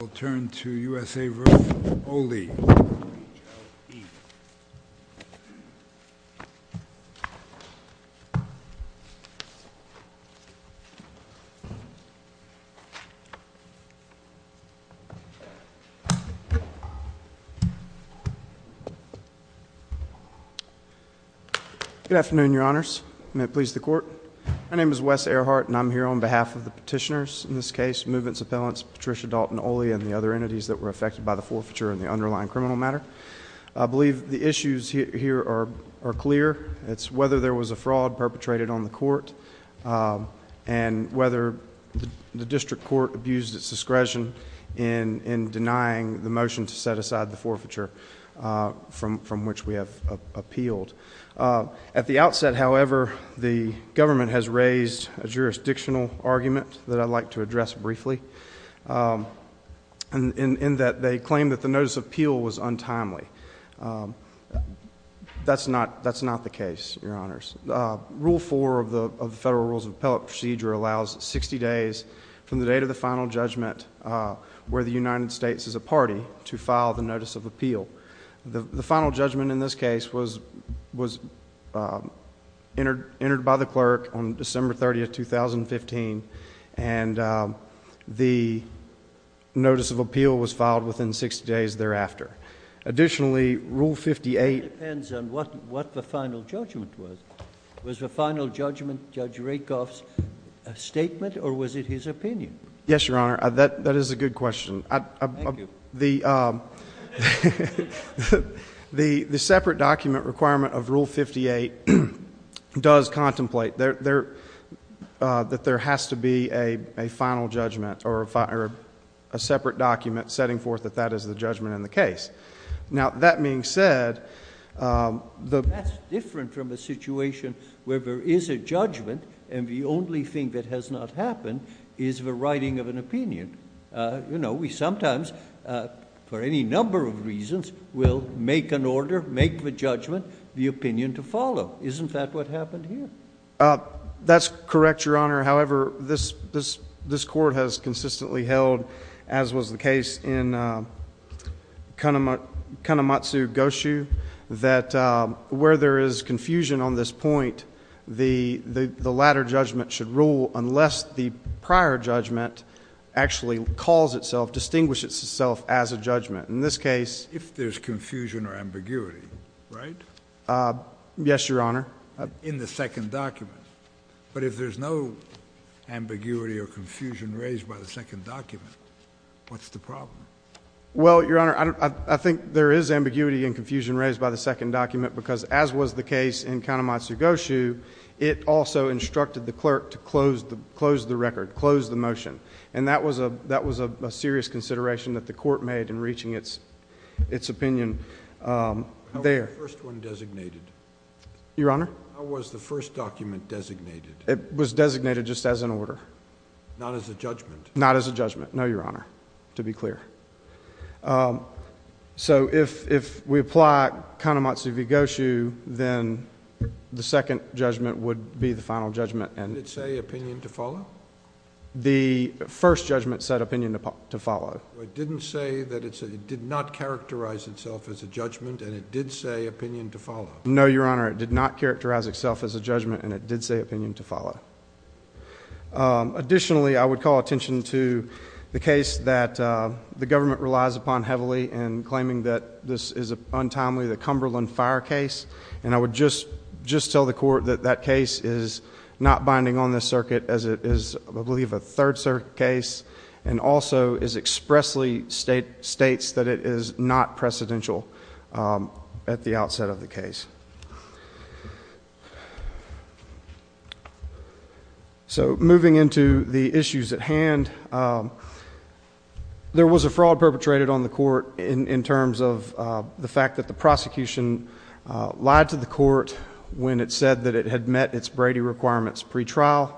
We'll turn to USA v. Oli. Good afternoon, your honors. May it please the court. My name is Wes Earhart, and I'm here on behalf of the petitioners. In this case, movements appellants Patricia Dalton Oli and the other entities that were affected by the forfeiture and the underlying criminal matter. I believe the issues here are clear. It's whether there was a fraud perpetrated on the court and whether the district court abused its discretion in denying the motion to set aside the forfeiture from which we have appealed. At the outset, however, the government has raised a jurisdictional argument that I'd like to address briefly, in that they claim that the notice of appeal was untimely. That's not the case, your honors. Rule 4 of the Federal Rules of Appellate Procedure allows 60 days from the date of the final judgment where the United States is a party to file the notice of appeal. The final judgment in this case was entered by the clerk on December 30, 2015, and the notice of appeal was filed within 60 days thereafter. Additionally, Rule 58 That depends on what the final judgment was. Was the final judgment Judge Rakoff's statement, or was it his opinion? Yes, your honor. That is a good question. Thank you. The separate document requirement of Rule 58 does contemplate that there has to be a final judgment or a separate document setting forth that that is the judgment in the case. Now, that being said, the That's different from a situation where there is a judgment and the only thing that has not happened is the writing of an opinion. You know, we sometimes, for any number of reasons, will make an order, make the judgment, the opinion to follow. Isn't that what happened here? That's correct, your honor. However, this court has consistently held, as was the case in Kanematsu-Goshu, that where there is confusion on this point, the latter judgment should rule unless the prior judgment actually calls itself, distinguishes itself as a judgment. In this case If there's confusion or ambiguity, right? Yes, your honor. In the second document. But if there's no ambiguity or confusion raised by the second document, what's the problem? Well, your honor, I think there is ambiguity and confusion raised by the second document because, as was the case in Kanematsu-Goshu, it also instructed the clerk to close the record, close the motion. And that was a serious consideration that the court made in reaching its opinion there. How was the first one designated? Your honor? How was the first document designated? It was designated just as an order. Not as a judgment? Not as a judgment, no, your honor, to be clear. So if we apply Kanematsu-Goshu, then the second judgment would be the final judgment. Did it say opinion to follow? The first judgment said opinion to follow. It didn't say that it did not characterize itself as a judgment, and it did say opinion to follow. No, your honor, it did not characterize itself as a judgment, and it did say opinion to follow. Additionally, I would call attention to the case that the government relies upon heavily in claiming that this is untimely, the Cumberland Fire case. And I would just tell the court that that case is not binding on this circuit, as it is, I believe, a third circuit case, and also expressly states that it is not precedential at the outset of the case. So moving into the issues at hand, there was a fraud perpetrated on the court in terms of the fact that the prosecution lied to the court when it said that it had met its Brady requirements pretrial.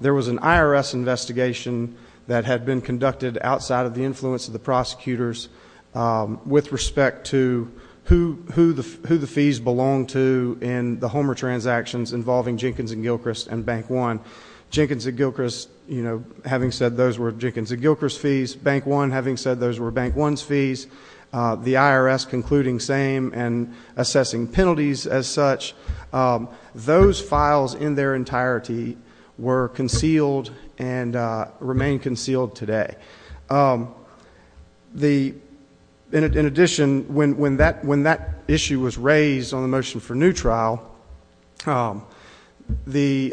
There was an IRS investigation that had been conducted outside of the influence of the prosecutors with respect to who the fees belonged to in the Homer transactions involving Jenkins & Gilchrist and Bank One. Jenkins & Gilchrist, you know, having said those were Jenkins & Gilchrist fees, Bank One having said those were Bank One's fees, the IRS concluding same and assessing penalties as such. Those files in their entirety were concealed and remain concealed today. In addition, when that issue was raised on the motion for new trial, the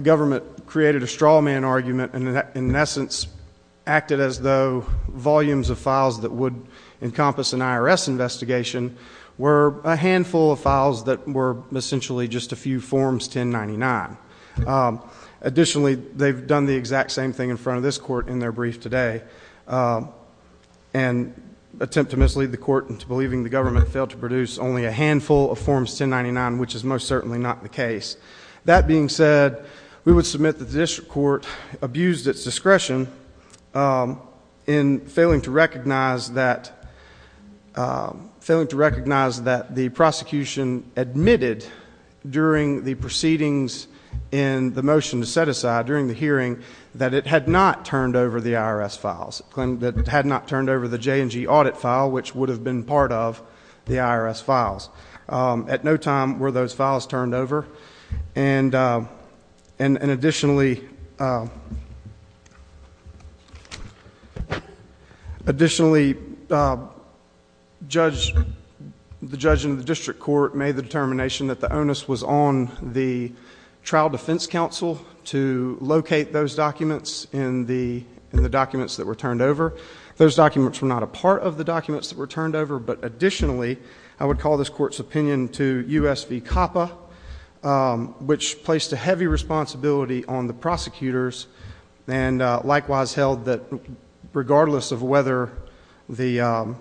government created a straw man argument and in essence acted as though volumes of files that would encompass an IRS investigation were a handful of files that were essentially just a few forms 1099. Additionally, they've done the exact same thing in front of this court in their brief today and attempt to mislead the court into believing the government failed to produce only a handful of forms 1099, which is most certainly not the case. That being said, we would submit that the district court abused its discretion in failing to recognize that the prosecution admitted during the proceedings in the motion to set aside during the hearing that it had not turned over the IRS files, that it had not turned over the J&G audit file, which would have been part of the IRS files. At no time were those files turned over. Additionally, the judge in the district court made the determination that the onus was on the trial defense counsel to locate those documents in the documents that were turned over. Those documents were not a part of the documents that were turned over, but additionally, I would call this court's opinion to U.S. v. COPPA, which placed a heavy responsibility on the prosecutors and likewise held that regardless of whether the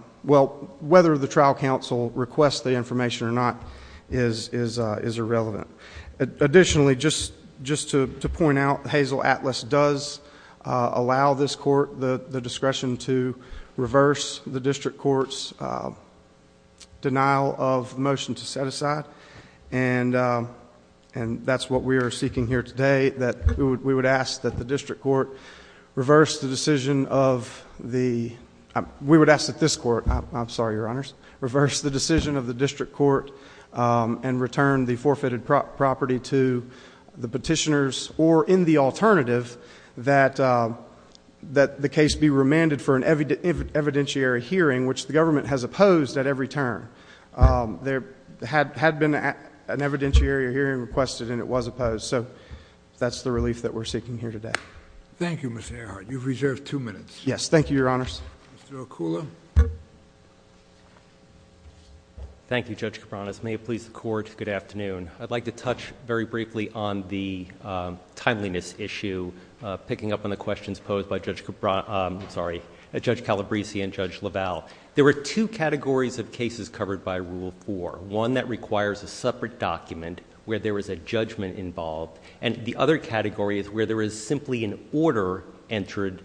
trial counsel requests the information or not is irrelevant. Additionally, just to point out, Hazel Atlas does allow this court the discretion to reverse the district court's denial of motion to set aside, and that's what we are seeking here today, that we would ask that the district court reverse the decision of the... We would ask that this court... I'm sorry, Your Honors... to the petitioners, or in the alternative, that the case be remanded for an evidentiary hearing, which the government has opposed at every turn. There had been an evidentiary hearing requested, and it was opposed. So, that's the relief that we're seeking here today. Thank you, Mr. Earhart. You've reserved two minutes. Yes. Thank you, Your Honors. Mr. Okula. Thank you, Judge Cabranes. May it please the Court, good afternoon. I'd like to touch very briefly on the timeliness issue, picking up on the questions posed by Judge Calabresi and Judge LaValle. There were two categories of cases covered by Rule 4, one that requires a separate document where there is a judgment involved, and the other category is where there is simply an order entered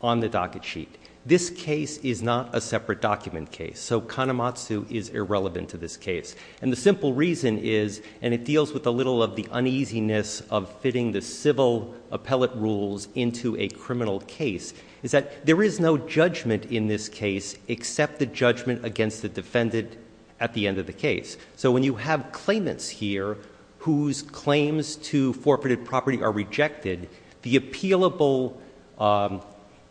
on the docket sheet. This case is not a separate document case, so Kanematsu is irrelevant to this case. And the simple reason is, and it deals with a little of the uneasiness of fitting the civil appellate rules into a criminal case, is that there is no judgment in this case except the judgment against the defendant at the end of the case. So, when you have claimants here whose claims to forfeited property are rejected, the appealable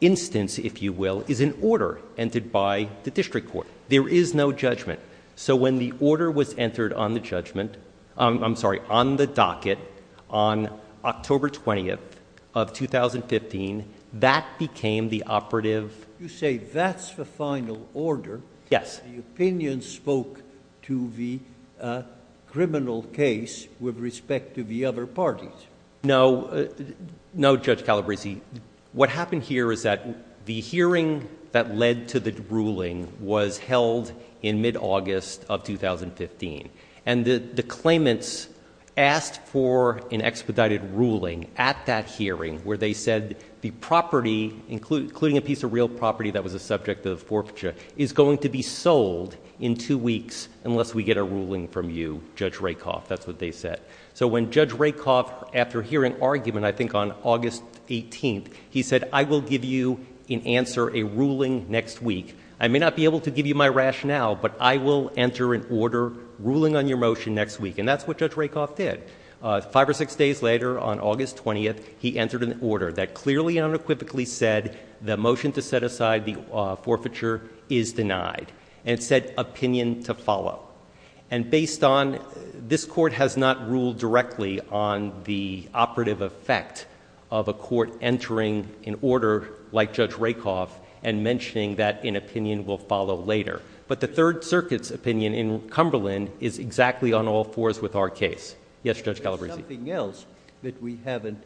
instance, if you will, is an order entered by the district court. There is no judgment. So, when the order was entered on the docket on October 20th of 2015, that became the operative… You say that's the final order. Yes. The opinion spoke to the criminal case with respect to the other parties. No, Judge Calabresi. What happened here is that the hearing that led to the ruling was held in mid-August of 2015. And the claimants asked for an expedited ruling at that hearing where they said the property, including a piece of real property that was a subject of forfeiture, is going to be sold in two weeks unless we get a ruling from you, Judge Rakoff. That's what they said. So, when Judge Rakoff, after hearing argument, I think on August 18th, he said, I will give you in answer a ruling next week. I may not be able to give you my rationale, but I will enter an order ruling on your motion next week. And that's what Judge Rakoff did. Five or six days later, on August 20th, he entered an order that clearly and unequivocally said the motion to set aside the forfeiture is denied. And it said opinion to follow. And based on, this court has not ruled directly on the operative effect of a court entering an order like Judge Rakoff and mentioning that an opinion will follow later. But the Third Circuit's opinion in Cumberland is exactly on all fours with our case. Yes, Judge Calabresi. There's something else that we haven't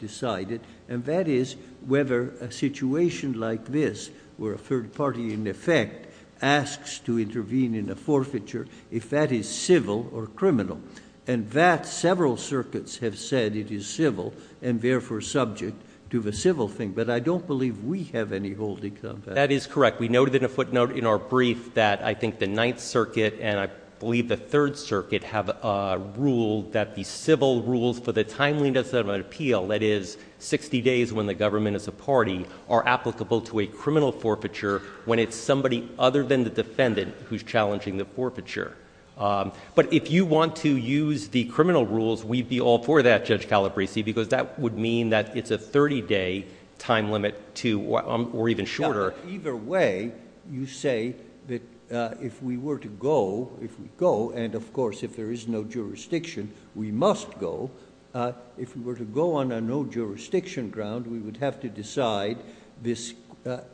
decided, and that is whether a situation like this, where a third party, in effect, asks to intervene in a forfeiture, if that is civil or criminal. And that several circuits have said it is civil, and therefore subject to the civil thing. But I don't believe we have any holdings on that. That is correct. We noted in a footnote in our brief that I think the Ninth Circuit and I believe the Third Circuit have ruled that the civil rules for the timeliness of an appeal, that is 60 days when the government is a party, are applicable to a criminal forfeiture when it's somebody other than the defendant who's challenging the forfeiture. But if you want to use the criminal rules, we'd be all for that, Judge Calabresi, because that would mean that it's a 30-day time limit or even shorter. Either way, you say that if we were to go, if we go, and of course if there is no jurisdiction, we must go. If we were to go on a no-jurisdiction ground, we would have to decide this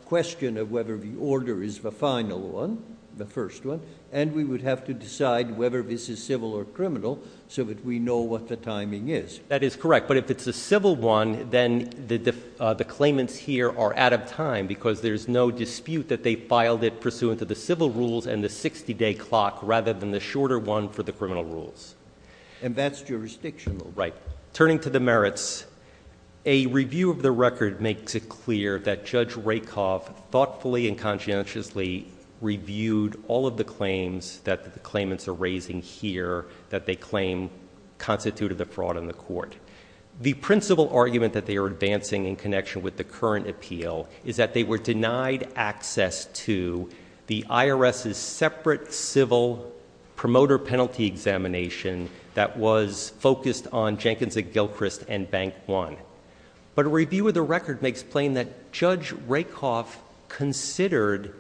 question of whether the order is the final one, the first one, and we would have to decide whether this is civil or criminal so that we know what the timing is. That is correct. But if it's a civil one, then the claimants here are out of time, because there's no dispute that they filed it pursuant to the civil rules and the 60-day clock rather than the shorter one for the criminal rules. And that's jurisdictional. Right. Turning to the merits, a review of the record makes it clear that Judge Rakoff thoughtfully and conscientiously reviewed all of the claims that the claimants are raising here that they claim constituted the fraud on the court. The principal argument that they are advancing in connection with the current appeal is that they were denied access to the IRS's separate civil promoter penalty examination that was focused on Jenkins and Gilchrist and Bank One. But a review of the record makes plain that Judge Rakoff considered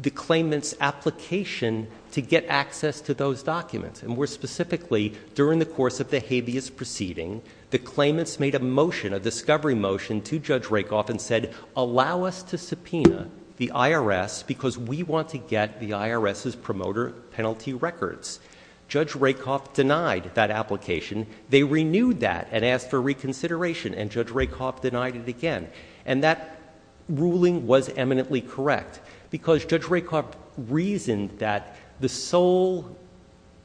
the claimant's application to get access to those documents. And more specifically, during the course of the habeas proceeding, the claimants made a motion, a discovery motion, to Judge Rakoff and said, allow us to subpoena the IRS because we want to get the IRS's promoter penalty records. Judge Rakoff denied that application. They renewed that and asked for reconsideration, and Judge Rakoff denied it again. And that ruling was eminently correct, because Judge Rakoff reasoned that the sole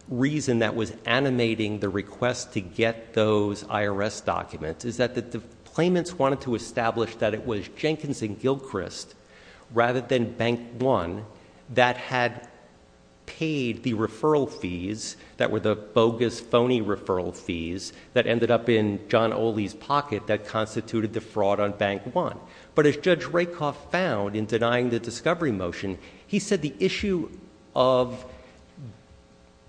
reason that was animating the request to get those IRS documents is that the claimants wanted to establish that it was Jenkins and Gilchrist rather than Bank One that had paid the referral fees that were the bogus, phony referral fees that ended up in John Oley's pocket that constituted the fraud on Bank One. But as Judge Rakoff found in denying the discovery motion, he said the issue of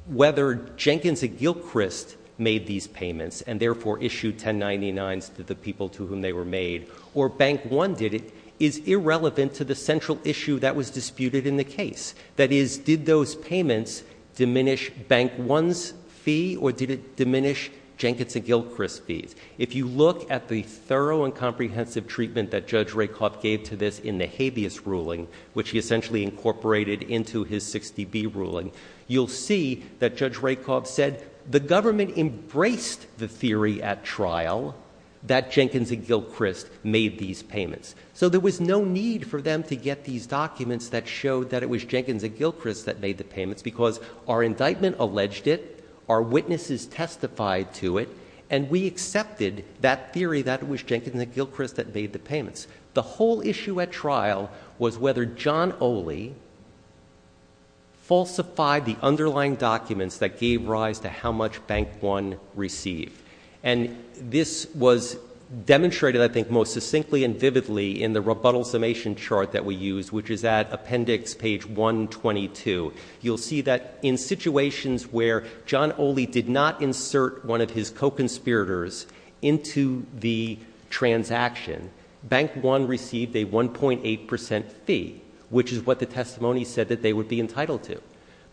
whether Jenkins and Gilchrist made these payments and therefore issued 1099s to the people to whom they were made, or Bank One did it, is irrelevant to the central issue that was disputed in the case. That is, did those payments diminish Bank One's fee, or did it diminish Jenkins and Gilchrist's fees? If you look at the thorough and comprehensive treatment that Judge Rakoff gave to this in the habeas ruling, which he essentially incorporated into his 60B ruling, you'll see that Judge Rakoff said the government embraced the theory at trial that Jenkins and Gilchrist made these payments. So there was no need for them to get these documents that showed that it was Jenkins and Gilchrist that made the payments, because our indictment alleged it, our witnesses testified to it, and we accepted that theory that it was Jenkins and Gilchrist that made the payments. The whole issue at trial was whether John Oley falsified the underlying documents that gave rise to how much Bank One received. And this was demonstrated, I think, most succinctly and vividly in the rebuttal summation chart that we used, which is at appendix page 122. You'll see that in situations where John Oley did not insert one of his co-conspirators into the transaction, Bank One received a 1.8% fee, which is what the testimony said that they would be entitled to.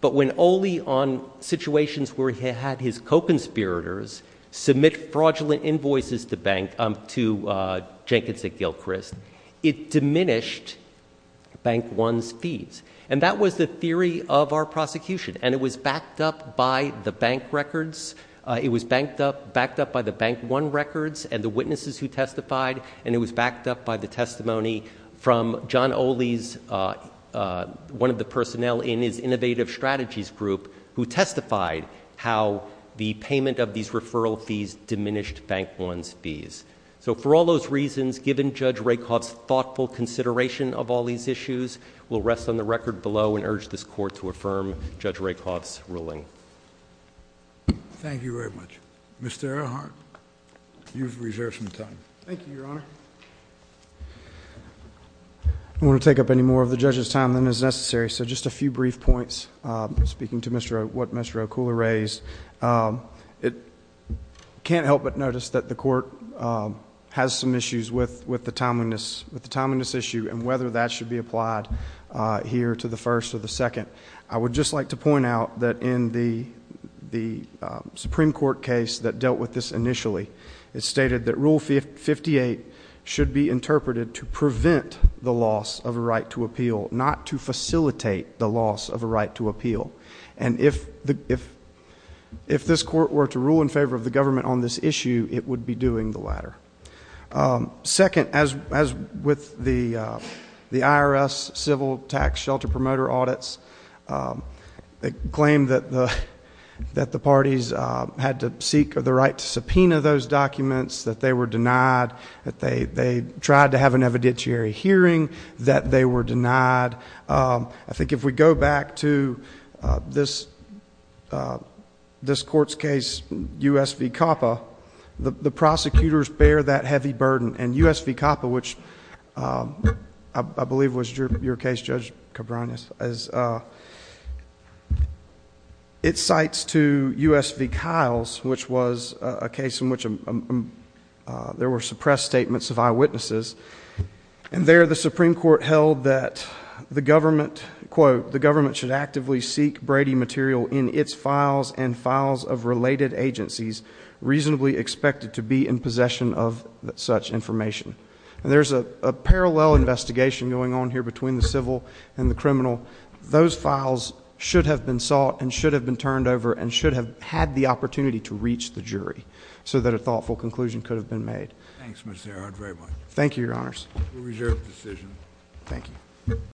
But when Oley, on situations where he had his co-conspirators, submit fraudulent invoices to Jenkins and Gilchrist, it diminished Bank One's fees. And that was the theory of our prosecution, and it was backed up by the Bank records, it was backed up by the Bank One records and the witnesses who testified, and it was backed up by the testimony from John Oley's, one of the personnel in his Innovative Strategies group, who testified how the payment of these referral fees diminished Bank One's fees. So for all those reasons, given Judge Rakoff's thoughtful consideration of all these issues, we'll rest on the record below and urge this Court to affirm Judge Rakoff's ruling. Thank you very much. Mr. Earhart, you've reserved some time. Thank you, Your Honor. I don't want to take up any more of the judge's time than is necessary, so just a few brief points. Speaking to what Mr. Okula raised, I can't help but notice that the Court has some issues with the timeliness issue and whether that should be applied here to the first or the second. I would just like to point out that in the Supreme Court case that dealt with this initially, it stated that Rule 58 should be interpreted to prevent the loss of a right to appeal, not to facilitate the loss of a right to appeal. And if this Court were to rule in favor of the government on this issue, it would be doing the latter. Second, as with the IRS civil tax shelter promoter audits, they claim that the parties had to seek the right to subpoena those documents, that they were denied, that they tried to have an evidentiary hearing, that they were denied. I think if we go back to this Court's case, U.S. v. COPPA, the prosecutors bear that heavy burden. And U.S. v. COPPA, which I believe was your case, Judge Cabranes, it cites to U.S. v. Kiles, which was a case in which there were suppressed statements of eyewitnesses. And there the Supreme Court held that the government, quote, the government should actively seek Brady material in its files and files of related agencies, reasonably expected to be in possession of such information. And there's a parallel investigation going on here between the civil and the criminal. Those files should have been sought and should have been turned over and should have had the opportunity to reach the jury so that a thoughtful conclusion could have been made. Thanks, Mr. Herrod, very much. Thank you, Your Honors. We reserve the decision. Thank you.